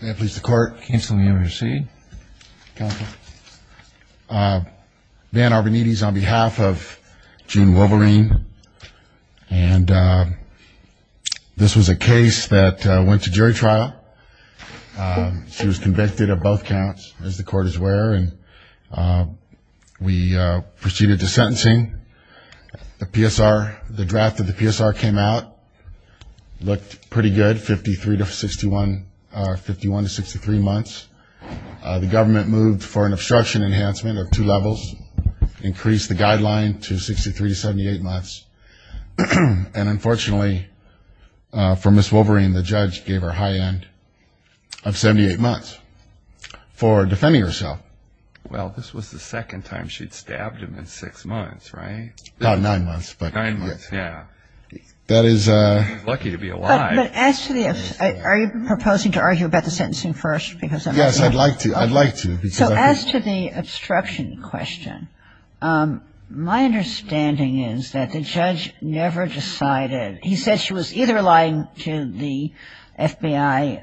May I please the court? Councilman, you may proceed. Van Arbonides on behalf of June Wolverine and this was a case that went to jury trial. She was convicted of both counts as the court is aware and we proceeded to sentencing. The PSR, the judgment was that she had been sentenced to 51 to 63 months. The government moved for an obstruction enhancement of two levels, increased the guideline to 63 to 78 months and unfortunately for Ms. Wolverine the judge gave her a high end of 78 months for defending herself. Well, this was the second time she'd stabbed him in 6 months, right? About 9 months. 9 months, yeah. That is a... Lucky to be alive. But actually, are you proposing to argue about the sentencing first because... Yes, I'd like to, I'd like to. So as to the obstruction question, my understanding is that the judge never decided, he said she was either lying to the FBI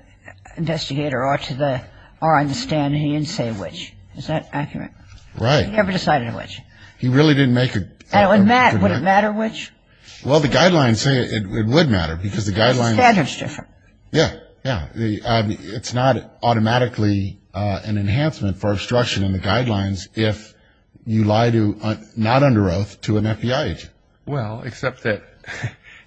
investigator or to the, or on the stand and he didn't say which. Is that accurate? Right. He never decided which. He really didn't make a... And would it matter which? Well, the guidelines say it would matter because the guidelines... The standard's different. Yeah, yeah. It's not automatically an enhancement for obstruction in the guidelines if you lie to, not under oath, to an FBI agent. Well, except that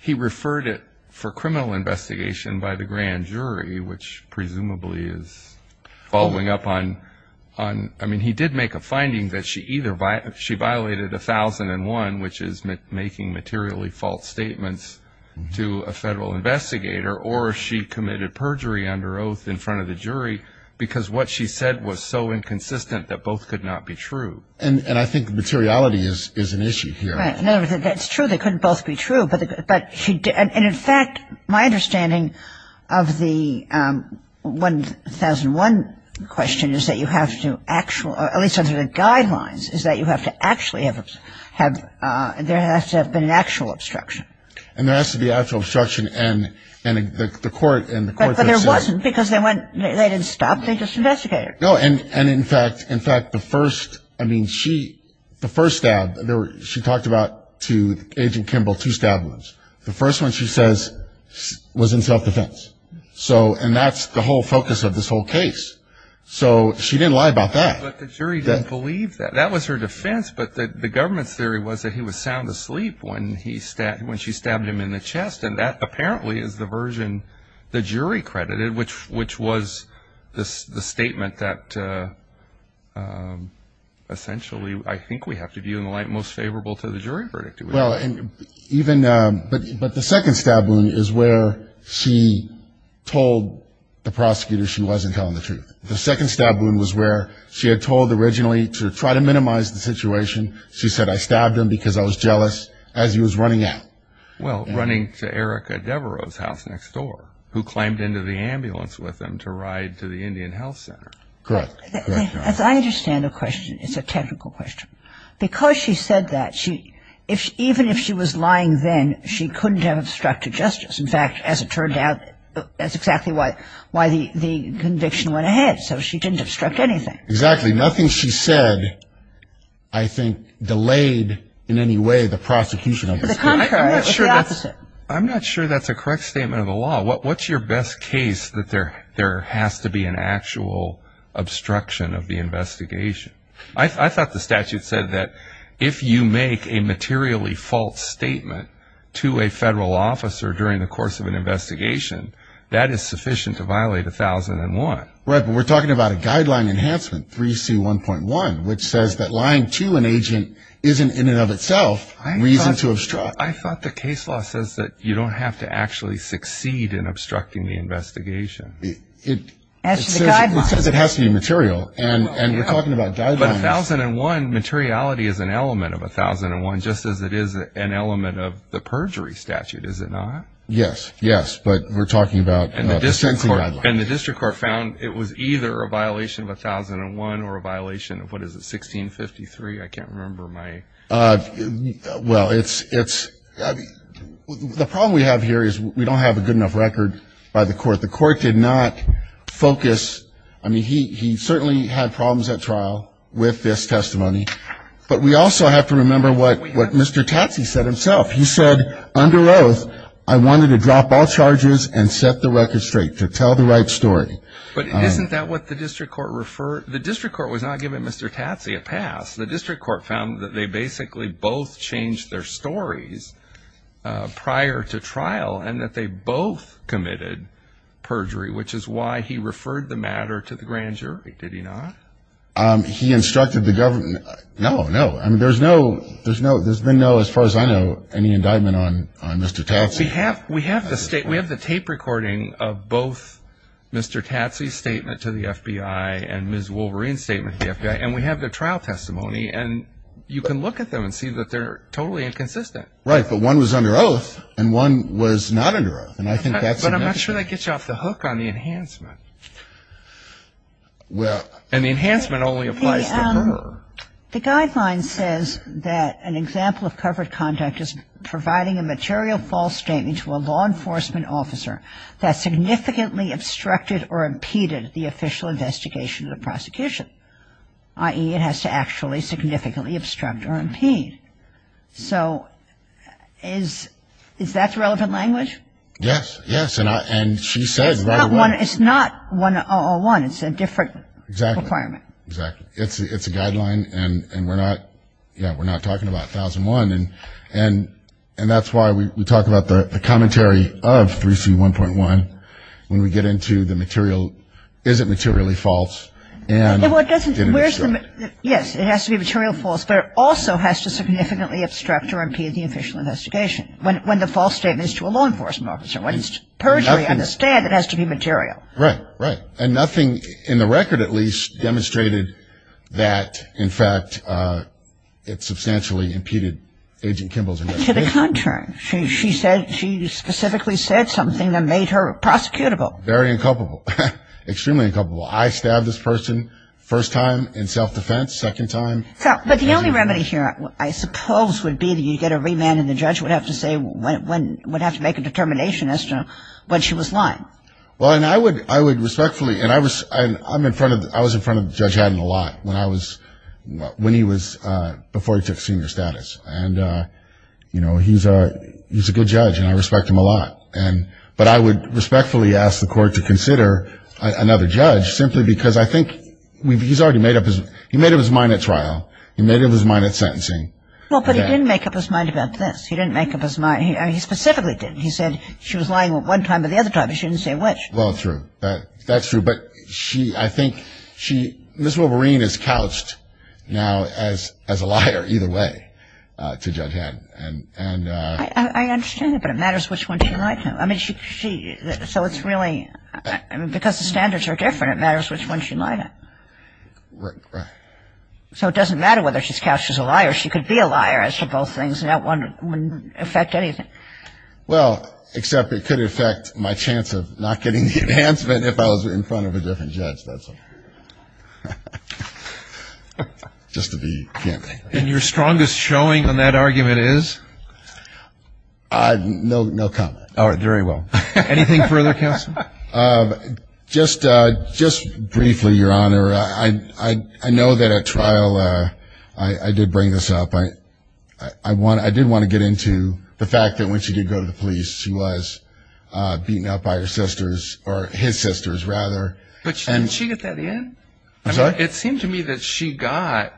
he referred it for criminal investigation by the grand jury which presumably is following up on, I mean he did make a finding that she either, she violated 1001 which is making materially false statements to a federal investigator or she committed perjury under oath. Perjury under oath in front of the jury because what she said was so inconsistent that both could not be true. And I think materiality is an issue here. Right. In other words, it's true they couldn't both be true, but she did, and in fact, my understanding of the 1001 question is that you have to actual, at least under the guidelines, is that you have to actually have, there has to have been an actual obstruction. And there has to be actual obstruction and the court... But there wasn't because they went, they didn't stop, they just investigated. No, and in fact, in fact, the first, I mean she, the first stab, she talked about to Agent Kimball two stab wounds. The first one she says was in self-defense. So, and that's the whole focus of this whole case. So, she didn't lie about that. But the jury didn't believe that. That was her defense, but the government's theory was that he was sound asleep when she stabbed him in the chest. And that apparently is the version the jury credited, which was the statement that essentially I think we have to view in the light most favorable to the jury verdict. Well, and even, but the second stab wound is where she told the prosecutor she wasn't telling the truth. The second stab wound was where she had told originally to try to minimize the situation. She said, I stabbed him because I was jealous as he was running out. Well, running to Erica Devereaux's house next door, who climbed into the ambulance with him to ride to the Indian Health Center. Correct. As I understand the question, it's a technical question. Because she said that, even if she was lying then, she couldn't have obstructed justice. In fact, as it turned out, that's exactly why the conviction went ahead. So, she didn't obstruct anything. Exactly. Nothing she said, I think, delayed in any way the prosecution of this case. I'm not sure that's a correct statement of the law. What's your best case that there has to be an actual obstruction of the investigation? I thought the statute said that if you make a materially false statement to a federal officer during the course of an investigation, that is sufficient to violate 1001. Right, but we're talking about a guideline enhancement, 3C1.1, which says that lying to an agent isn't, in and of itself, reason to obstruct. I thought the case law says that you don't have to actually succeed in obstructing the investigation. It says it has to be material, and we're talking about guidelines. But 1001, materiality is an element of 1001, just as it is an element of the perjury statute, is it not? Yes, yes, but we're talking about the sentencing guideline. And the district court found it was either a violation of 1001 or a violation of, what is it, 1653? I can't remember my... Well, it's, the problem we have here is we don't have a good enough record by the court. The court did not focus, I mean, he certainly had problems at trial with this testimony, but we also have to remember what Mr. Tatsy said himself. He said, under oath, I wanted to drop all charges and set the record straight, to tell the right story. But isn't that what the district court referred, the district court was not giving Mr. Tatsy a pass. The district court found that they basically both changed their stories prior to trial and that they both committed perjury, which is why he referred the matter to the grand jury, did he not? He instructed the government, no, no, I mean, there's no, there's been no, as far as I know, any indictment on Mr. Tatsy. We have the tape recording of both Mr. Tatsy's statement to the FBI and Ms. Wolverine's statement to the FBI, and we have their trial testimony, and you can look at them and see that they're totally inconsistent. Right, but one was under oath and one was not under oath, and I think that's... But I'm not sure that gets you off the hook on the enhancement. Well... And the enhancement only applies to her. The guideline says that an example of covered conduct is providing a material false statement to a law enforcement officer that significantly obstructed or impeded the official investigation of the prosecution, i.e., it has to actually significantly obstruct or impede. So is that the relevant language? Yes, yes, and she says right away... It's not 101, it's a different requirement. Exactly, exactly. It's a guideline, and we're not, you know, we're not talking about 1001, and that's why we talk about the commentary of 3C1.1 when we get into the material, is it materially false, and... Well, it doesn't, where's the, yes, it has to be materially false, but it also has to significantly obstruct or impede the official investigation. When the false statement is to a law enforcement officer, when it's perjury on the stand, it has to be material. Right, right. And nothing in the record, at least, demonstrated that, in fact, it substantially impeded Agent Kimball's investigation. To the contrary. She said, she specifically said something that made her prosecutable. Very inculpable. Extremely inculpable. I stabbed this person first time in self-defense, second time... But the only remedy here, I suppose, would be that you get a remand, and the judge would have to say, would have to make a determination as to when she was lying. Well, and I would respectfully, and I'm in front of, I was in front of Judge Haddon a lot when I was, when he was, before he took senior status. And, you know, he's a good judge, and I respect him a lot. And, but I would respectfully ask the court to consider another judge, simply because I think he's already made up his, he made up his mind at trial. He made up his mind at sentencing. Well, but he didn't make up his mind about this. He didn't make up his mind. He specifically didn't. He said she was lying one time, but the other time she didn't say which. Well, true. That's true. But she, I think she, Ms. Wolverine is couched now as a liar either way to Judge Haddon. I understand that, but it matters which one she lied to. I mean, she, so it's really, I mean, because the standards are different, it matters which one she lied to. Right. So it doesn't matter whether she's couched as a liar. She could be a liar as to both things, and that wouldn't affect anything. Well, except it could affect my chance of not getting the enhancement if I was in front of a different judge. That's all. Just to be clear. And your strongest showing on that argument is? No comment. All right. Very well. Anything further, counsel? Just briefly, Your Honor. I know that at trial I did bring this up. I did want to get into the fact that when she did go to the police, she was beaten up by her sisters, or his sisters rather. But didn't she get that in? I'm sorry? It seemed to me that she got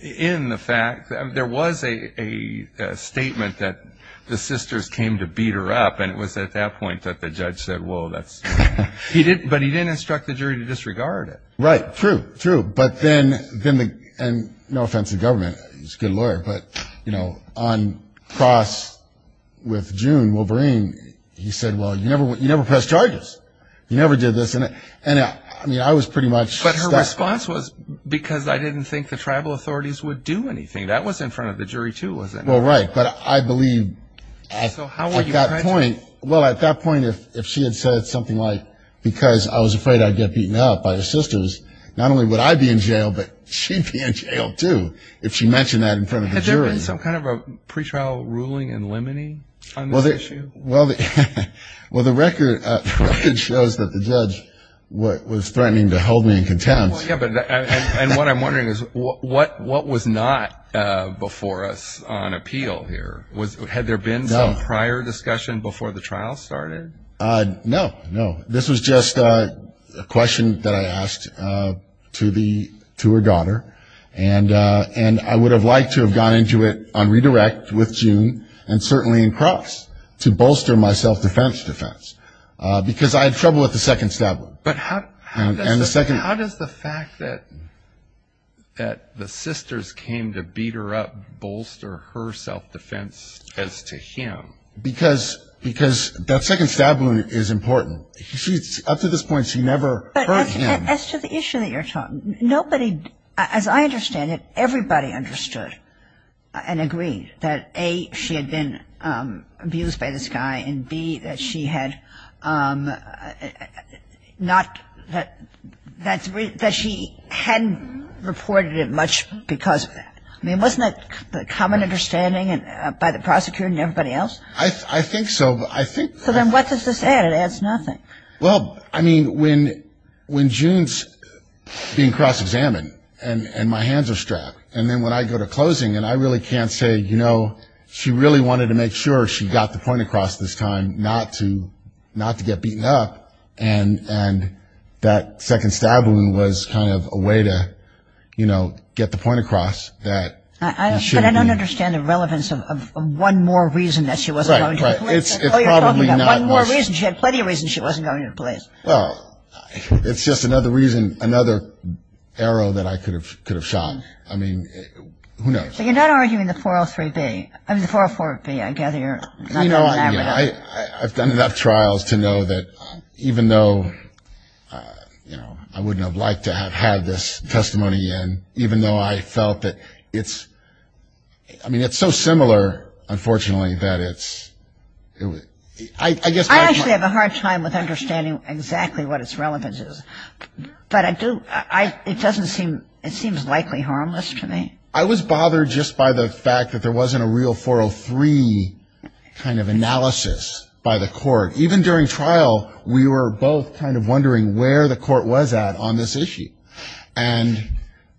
in the fact, there was a statement that the sisters came to beat her up, and it was at that point that the judge said, whoa, that's, but he didn't instruct the jury to disregard it. Right, true, true. But then, and no offense to the government, he's a good lawyer, but, you know, on cross with June Wolverine, he said, well, you never pressed charges. You never did this. And I mean, I was pretty much. But her response was, because I didn't think the tribal authorities would do anything. That was in front of the jury, too, wasn't it? Well, right. But I believe at that point. Well, at that point, if she had said something like, because I was afraid I'd get beaten up by her sisters, not only would I be in jail, but she'd be in jail, too, if she mentioned that in front of the jury. Had there been some kind of a pretrial ruling in limine on this issue? Well, the record shows that the judge was threatening to hold me in contempt. And what I'm wondering is, what was not before us on appeal here? Had there been some prior discussion before the trial started? No, no. This was just a question that I asked to her daughter, and I would have liked to have gone into it on redirect with June, and certainly in cross, to bolster my self-defense defense, because I had trouble with the second stab wound. But how does the fact that the sisters came to beat her up bolster her self-defense as to him? Because that second stab wound is important. Up to this point, she never hurt him. As to the issue that you're talking, nobody, as I understand it, everybody understood and agreed that, A, she had been abused by this guy, and, B, that she hadn't reported it much because of that. I mean, wasn't that the common understanding by the prosecutor and everybody else? I think so. So then what does this add? It adds nothing. Well, I mean, when June's being cross-examined, and my hands are strapped, and then when I go to closing, and I really can't say, you know, she really wanted to make sure she got the point across this time not to get beaten up, and that second stab wound was kind of a way to, you know, get the point across. But I don't understand the relevance of one more reason that she wasn't going to the clinic. One more reason. She had plenty of reasons she wasn't going to the police. Well, it's just another reason, another arrow that I could have shot. I mean, who knows? But you're not arguing the 403B. I mean, the 404B. I gather you're not doing that right now. I've done enough trials to know that even though, you know, I wouldn't have liked to have had this testimony in, even though I felt that it's so similar, unfortunately, that it's ‑‑ I guess my point ‑‑ I actually have a hard time with understanding exactly what its relevance is. But I do ‑‑ it doesn't seem ‑‑ it seems likely harmless to me. I was bothered just by the fact that there wasn't a real 403 kind of analysis by the court. Even during trial, we were both kind of wondering where the court was at on this issue. And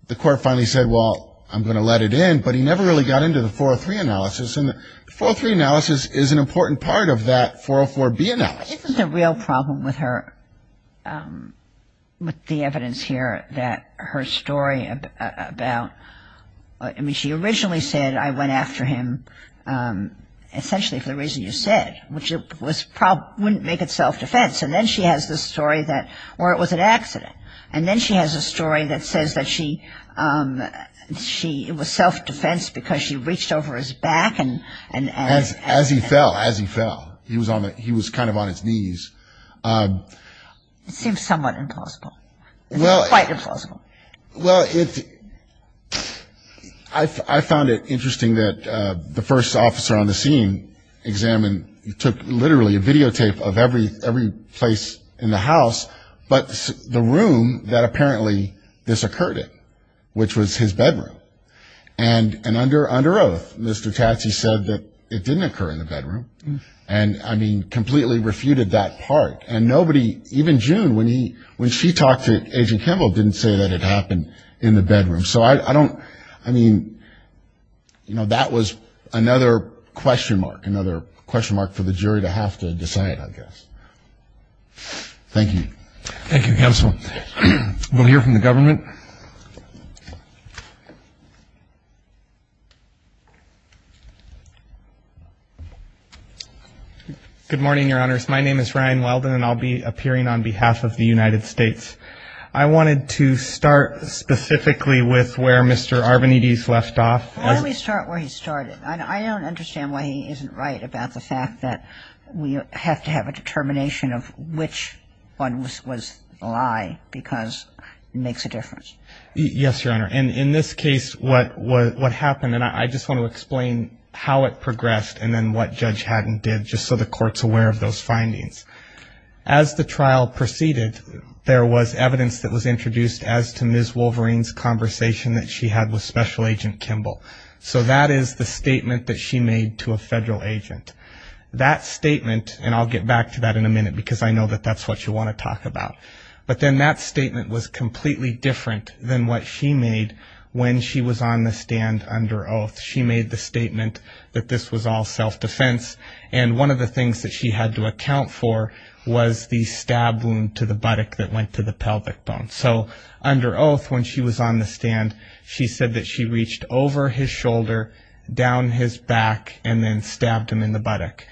the court finally said, well, I'm going to let it in, but he never really got into the 403 analysis. And the 403 analysis is an important part of that 404B analysis. Isn't the real problem with her ‑‑ with the evidence here that her story about ‑‑ I mean, she originally said, I went after him essentially for the reason you said, which wouldn't make it self‑defense. And then she has this story that ‑‑ or it was an accident. And then she has a story that says that she ‑‑ it was self‑defense because she reached over his back and ‑‑ As he fell, as he fell. He was kind of on his knees. It seems somewhat implausible. It's quite implausible. Well, it's ‑‑ I found it interesting that the first officer on the scene examined ‑‑ took literally a videotape of every place in the house, but the room that apparently this occurred in, which was his bedroom. And under oath, Mr. Tatsy said that it didn't occur in the bedroom. And, I mean, completely refuted that part. And nobody, even June, when she talked to Agent Kimball, didn't say that it happened in the bedroom. So I don't ‑‑ I mean, you know, that was another question mark, Thank you. Thank you, Counsel. We'll hear from the government. Good morning, Your Honors. My name is Ryan Weldon, and I'll be appearing on behalf of the United States. I wanted to start specifically with where Mr. Arvanites left off. Why don't we start where he started? I don't understand why he isn't right about the fact that we have to have a determination of which one was a lie because it makes a difference. Yes, Your Honor. And in this case, what happened, and I just want to explain how it progressed and then what Judge Haddon did, just so the Court's aware of those findings. As the trial proceeded, there was evidence that was introduced as to Ms. Wolverine's conversation that she had with Special Agent Kimball. So that is the statement that she made to a federal agent. That statement, and I'll get back to that in a minute because I know that that's what you want to talk about, but then that statement was completely different than what she made when she was on the stand under oath. She made the statement that this was all self‑defense, and one of the things that she had to account for was the stab wound to the buttock that went to the pelvic bone. So under oath, when she was on the stand, she said that she reached over his shoulder, down his back, and then stabbed him in the buttock.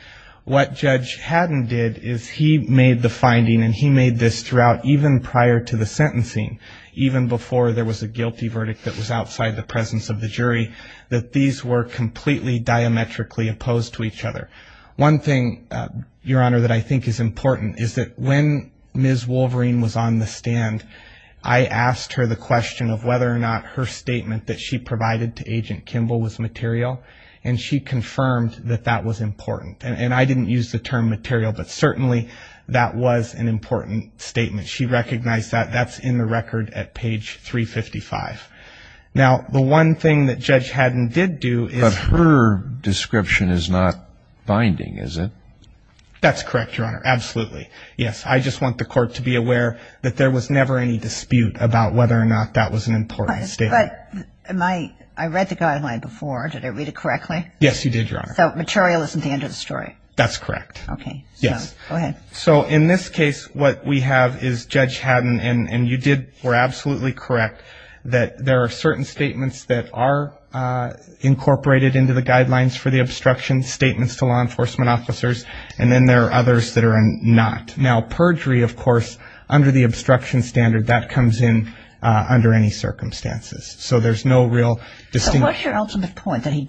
What Judge Haddon did is he made the finding, and he made this throughout even prior to the sentencing, even before there was a guilty verdict that was outside the presence of the jury, that these were completely diametrically opposed to each other. One thing, Your Honor, that I think is important is that when Ms. Wolverine was on the stand, I asked her the question of whether or not her statement that she provided to Agent Kimball was material, and she confirmed that that was important. And I didn't use the term material, but certainly that was an important statement. She recognized that. That's in the record at page 355. Now, the one thing that Judge Haddon did do is ‑‑ That's correct, Your Honor. Absolutely. Yes. I just want the court to be aware that there was never any dispute about whether or not that was an important statement. But I read the guideline before. Did I read it correctly? Yes, you did, Your Honor. So material isn't the end of the story? That's correct. Okay. Yes. Go ahead. So in this case, what we have is Judge Haddon, and you were absolutely correct, that there are certain statements that are incorporated into the guidelines for the obstruction, statements to law enforcement officers, and then there are others that are not. Now, perjury, of course, under the obstruction standard, that comes in under any circumstances. So there's no real distinction. So what's your ultimate point, that he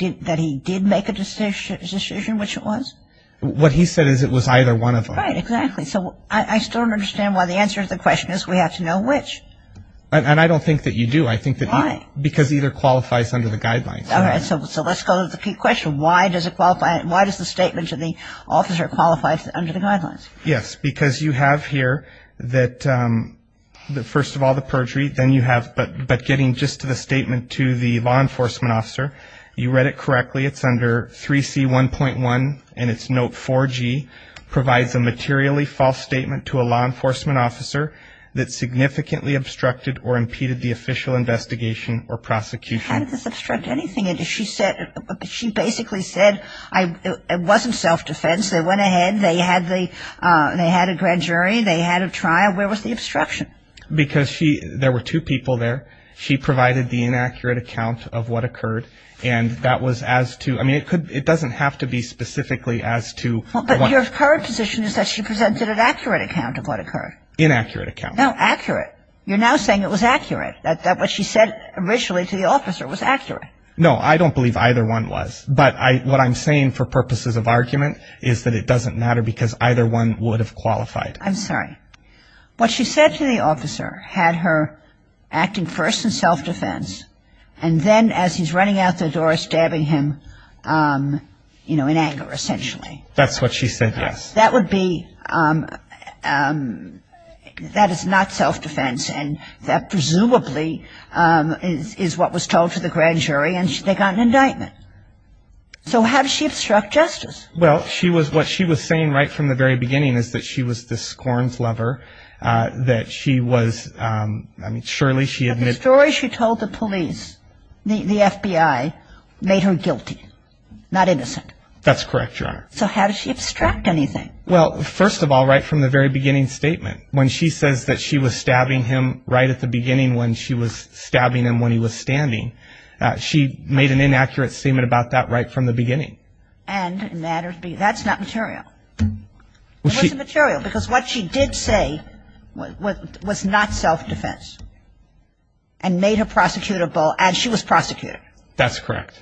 did make a decision which it was? What he said is it was either one of them. Right, exactly. So I still don't understand why the answer to the question is we have to know which. And I don't think that you do. Why? Because either qualifies under the guidelines. All right. So let's go to the key question. Why does the statement to the officer qualify under the guidelines? Yes, because you have here that, first of all, the perjury. Then you have, but getting just to the statement to the law enforcement officer, you read it correctly. It's under 3C1.1, and it's note 4G, provides a materially false statement to a law enforcement officer that significantly obstructed or impeded the official investigation or prosecution. How did this obstruct anything? She basically said it wasn't self-defense. They went ahead. They had a grand jury. They had a trial. Where was the obstruction? Because there were two people there. She provided the inaccurate account of what occurred, and that was as to ‑‑ I mean, it doesn't have to be specifically as to what occurred. But your current position is that she presented an accurate account of what occurred. Inaccurate account. No, accurate. You're now saying it was accurate, that what she said originally to the officer was accurate. No, I don't believe either one was. But what I'm saying for purposes of argument is that it doesn't matter because either one would have qualified. I'm sorry. What she said to the officer had her acting first in self-defense, and then as he's running out the door, stabbing him, you know, in anger, essentially. That's what she said, yes. That would be ‑‑ that is not self-defense, and that presumably is what was told to the grand jury, and they got an indictment. So how did she obstruct justice? Well, she was ‑‑ what she was saying right from the very beginning is that she was this scorns lover, that she was ‑‑ I mean, surely she had ‑‑ the story she told the police, the FBI, made her guilty, not innocent. That's correct, Your Honor. So how did she obstruct anything? Well, first of all, right from the very beginning statement, when she says that she was stabbing him right at the beginning when she was stabbing him when he was standing, she made an inaccurate statement about that right from the beginning. And that's not material. It wasn't material because what she did say was not self-defense and made her prosecutable as she was prosecuted. That's correct.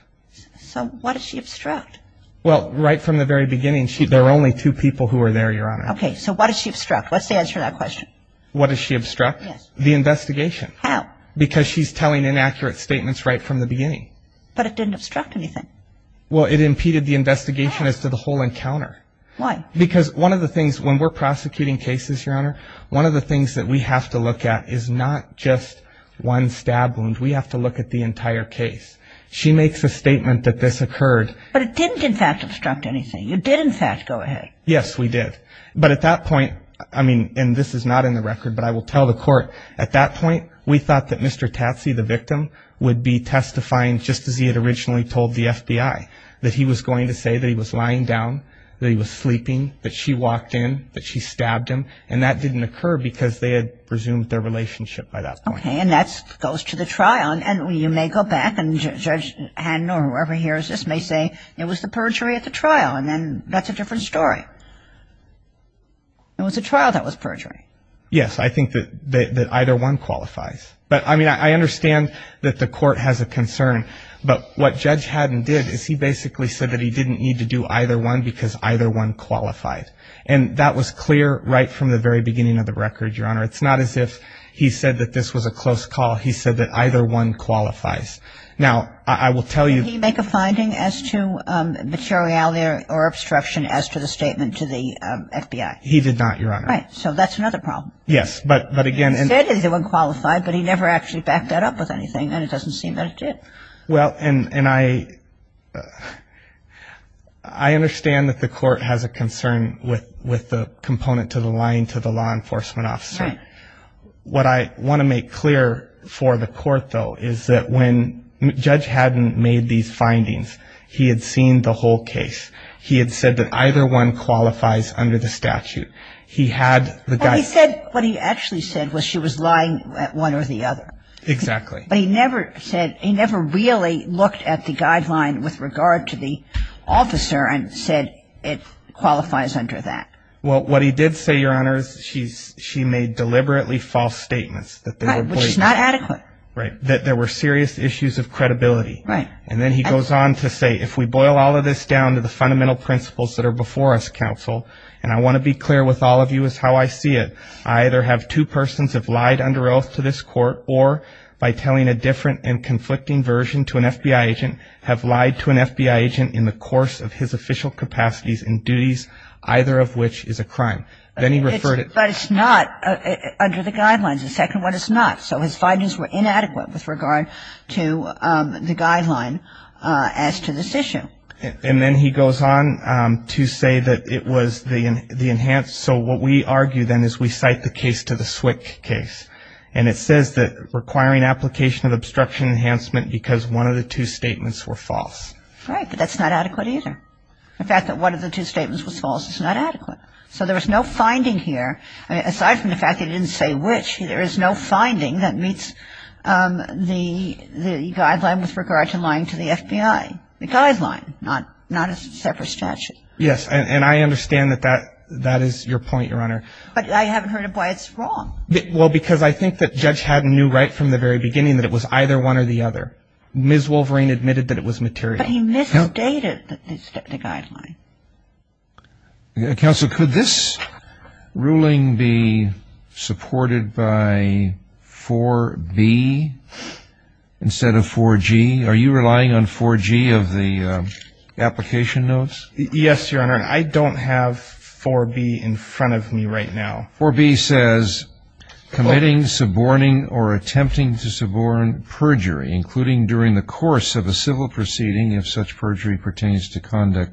So what did she obstruct? Well, right from the very beginning, there were only two people who were there, Your Honor. Okay. So what did she obstruct? What's the answer to that question? What did she obstruct? Yes. The investigation. How? Because she's telling inaccurate statements right from the beginning. But it didn't obstruct anything. Well, it impeded the investigation as to the whole encounter. Why? Because one of the things when we're prosecuting cases, Your Honor, one of the things that we have to look at is not just one stab wound. We have to look at the entire case. She makes a statement that this occurred. But it didn't, in fact, obstruct anything. You did, in fact, go ahead. Yes, we did. But at that point, I mean, and this is not in the record, but I will tell the court, we thought that Mr. Tatsy, the victim, would be testifying just as he had originally told the FBI, that he was going to say that he was lying down, that he was sleeping, that she walked in, that she stabbed him. And that didn't occur because they had resumed their relationship by that point. Okay. And that goes to the trial. And you may go back and Judge Hannon or whoever hears this may say it was the perjury at the trial. And then that's a different story. It was a trial that was perjury. Yes, I think that either one qualifies. But, I mean, I understand that the court has a concern. But what Judge Hannon did is he basically said that he didn't need to do either one because either one qualified. And that was clear right from the very beginning of the record, Your Honor. It's not as if he said that this was a close call. He said that either one qualifies. Now, I will tell you — Did he make a finding as to materiality or obstruction as to the statement to the FBI? He did not, Your Honor. Right. So that's another problem. Yes. But, again — He said either one qualified, but he never actually backed that up with anything. And it doesn't seem that it did. Well, and I understand that the court has a concern with the component to the lying to the law enforcement officer. Right. What I want to make clear for the court, though, is that when Judge Hannon made these findings, he had seen the whole case. He had said that either one qualifies under the statute. He had the — Well, he said — what he actually said was she was lying one or the other. Exactly. But he never said — he never really looked at the guideline with regard to the officer and said it qualifies under that. Well, what he did say, Your Honor, is she made deliberately false statements that they were — Right. Which is not adequate. Right. That there were serious issues of credibility. Right. And then he goes on to say, If we boil all of this down to the fundamental principles that are before us, counsel, and I want to be clear with all of you is how I see it. I either have two persons have lied under oath to this court, or by telling a different and conflicting version to an FBI agent, have lied to an FBI agent in the course of his official capacities and duties, either of which is a crime. Then he referred it — But it's not under the guidelines. The second one is not. So his findings were inadequate with regard to the guideline as to this issue. And then he goes on to say that it was the enhanced — so what we argue then is we cite the case to the SWCC case. And it says that requiring application of obstruction enhancement because one of the two statements were false. Right. But that's not adequate either. The fact that one of the two statements was false is not adequate. So there was no finding here. Aside from the fact that he didn't say which, there is no finding that meets the guideline with regard to lying to the FBI. The guideline, not a separate statute. Yes. And I understand that that is your point, Your Honor. But I haven't heard of why it's wrong. Well, because I think that Judge Haddon knew right from the very beginning that it was either one or the other. Ms. Wolverine admitted that it was material. But he misstated the guideline. Counsel, could this ruling be supported by 4B instead of 4G? Are you relying on 4G of the application notes? Yes, Your Honor. I don't have 4B in front of me right now. 4B says, committing, suborning or attempting to suborn perjury, including during the course of a civil proceeding if such perjury pertains to conduct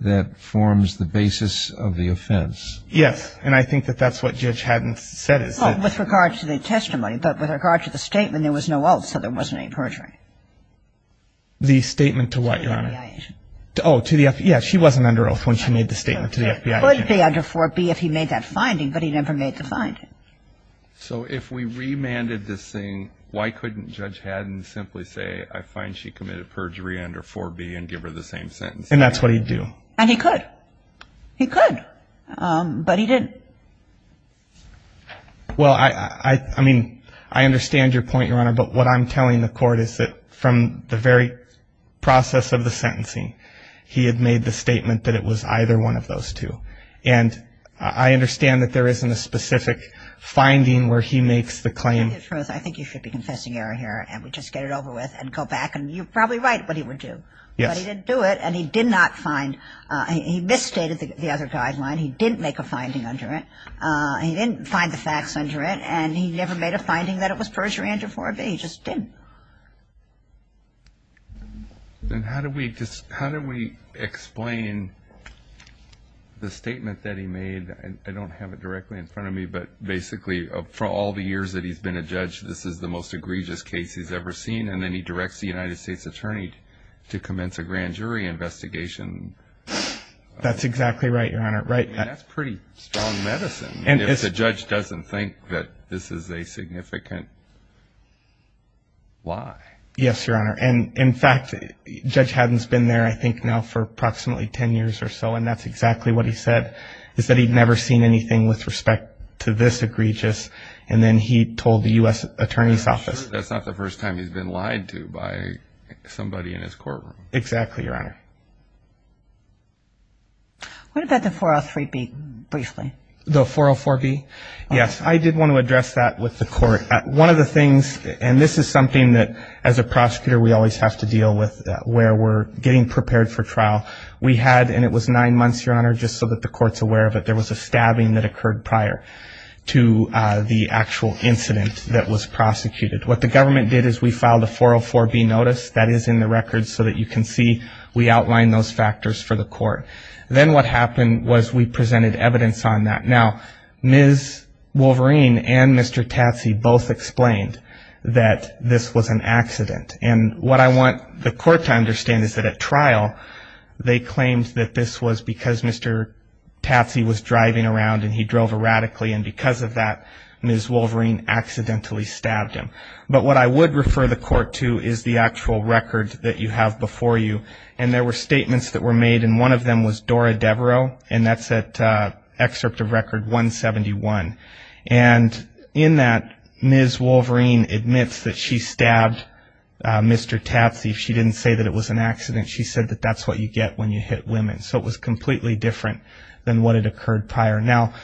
that forms the basis of the offense. Yes. And I think that that's what Judge Haddon said. Well, with regard to the testimony, but with regard to the statement, there was no oath, so there wasn't any perjury. The statement to what, Your Honor? To the FBI agent. Oh, to the FBI. Yes, she wasn't under oath when she made the statement to the FBI agent. It could be under 4B if he made that finding, but he never made the finding. So if we remanded this thing, why couldn't Judge Haddon simply say, I find she committed perjury under 4B and give her the same sentence? And that's what he'd do. And he could. He could, but he didn't. Well, I mean, I understand your point, Your Honor, but what I'm telling the Court is that from the very process of the sentencing, he had made the statement that it was either one of those two. And I understand that there isn't a specific finding where he makes the claim. To tell you the truth, I think you should be confessing error here, and we just get it over with and go back. And you're probably right what he would do. Yes. But he didn't do it, and he did not find – he misstated the other guideline. He didn't make a finding under it. He didn't find the facts under it, and he never made a finding that it was perjury under 4B. He just didn't. Then how do we explain the statement that he made? I don't have it directly in front of me, but basically for all the years that he's been a judge, this is the most egregious case he's ever seen, and then he directs the United States Attorney to commence a grand jury investigation. That's exactly right, Your Honor. I mean, that's pretty strong medicine, if the judge doesn't think that this is a significant lie. Yes, Your Honor. And, in fact, Judge Haddon's been there, I think, now for approximately 10 years or so, and that's exactly what he said, is that he'd never seen anything with respect to this egregious, and then he told the U.S. Attorney's Office. That's not the first time he's been lied to by somebody in his courtroom. Exactly, Your Honor. What about the 403B, briefly? The 404B? Yes, I did want to address that with the court. One of the things, and this is something that, as a prosecutor, we always have to deal with where we're getting prepared for trial. We had, and it was nine months, Your Honor, just so that the court's aware of it, there was a stabbing that occurred prior to the actual incident that was prosecuted. What the government did is we filed a 404B notice. That is in the record so that you can see we outlined those factors for the court. Then what happened was we presented evidence on that. Now, Ms. Wolverine and Mr. Tatsy both explained that this was an accident, and what I want the court to understand is that at trial they claimed that this was because Mr. Tatsy was driving around and he drove erratically, and because of that Ms. Wolverine accidentally stabbed him. But what I would refer the court to is the actual record that you have before you, and there were statements that were made, and one of them was Dora Devereaux, and that's at Excerpt of Record 171. And in that Ms. Wolverine admits that she stabbed Mr. Tatsy. She didn't say that it was an accident. She said that that's what you get when you hit women. So it was completely different than what had occurred prior. Now,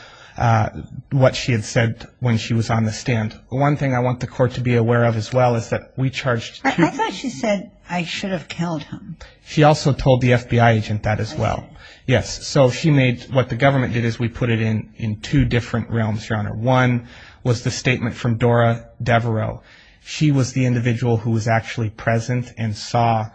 what she had said when she was on the stand, one thing I want the court to be aware of as well is that we charged two people. I thought she said I should have killed him. She also told the FBI agent that as well. Yes, so she made what the government did is we put it in two different realms, Your Honor. One was the statement from Dora Devereaux. She was the individual who was actually present and saw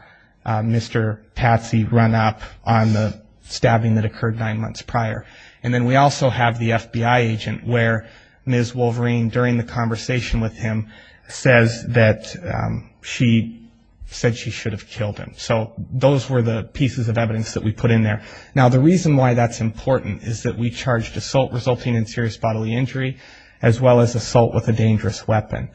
Mr. Tatsy run up on the stabbing that occurred nine months prior. And then we also have the FBI agent where Ms. Wolverine, during the conversation with him, says that she said she should have killed him. So those were the pieces of evidence that we put in there. Now, the reason why that's important is that we charged assault resulting in serious bodily injury as well as assault with a dangerous weapon.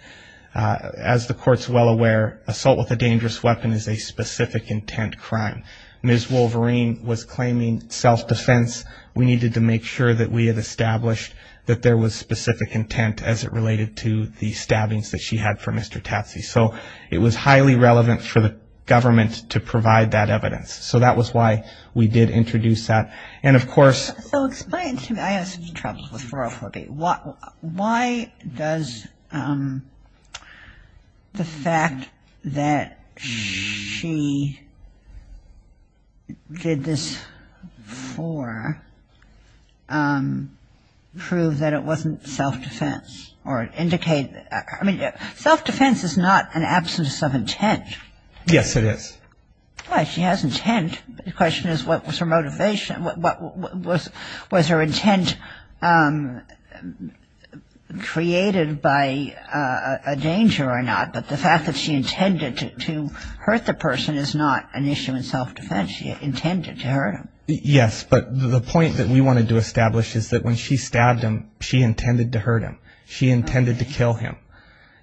As the court's well aware, assault with a dangerous weapon is a specific intent crime. Ms. Wolverine was claiming self-defense. We needed to make sure that we had established that there was specific intent as it related to the stabbings that she had for Mr. Tatsy. So it was highly relevant for the government to provide that evidence. So that was why we did introduce that. And of course So explain to me, I have some trouble with 404B. Why does the fact that she did this for prove that it wasn't self-defense or indicate? I mean, self-defense is not an absence of intent. Yes, it is. Well, she has intent. The question is what was her motivation? Was her intent created by a danger or not? But the fact that she intended to hurt the person is not an issue in self-defense. She intended to hurt him. Yes, but the point that we wanted to establish is that when she stabbed him, she intended to hurt him. She intended to kill him.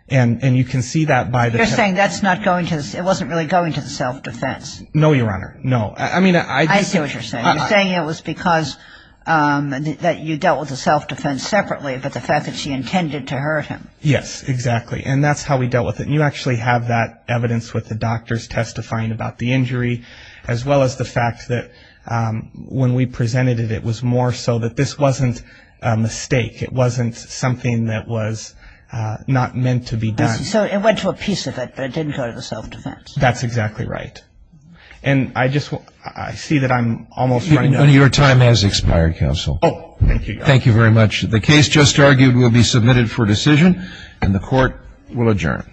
And you can see that by the It wasn't really going to the self-defense. No, Your Honor. No. I see what you're saying. You're saying it was because that you dealt with the self-defense separately, but the fact that she intended to hurt him. Yes, exactly. And that's how we dealt with it. And you actually have that evidence with the doctors testifying about the injury, as well as the fact that when we presented it, it was more so that this wasn't a mistake. It wasn't something that was not meant to be done. So it went to a piece of it, but it didn't go to the self-defense. That's exactly right. And I just see that I'm almost running out of time. Your time has expired, counsel. Oh, thank you. Thank you very much. The case just argued will be submitted for decision, and the Court will adjourn.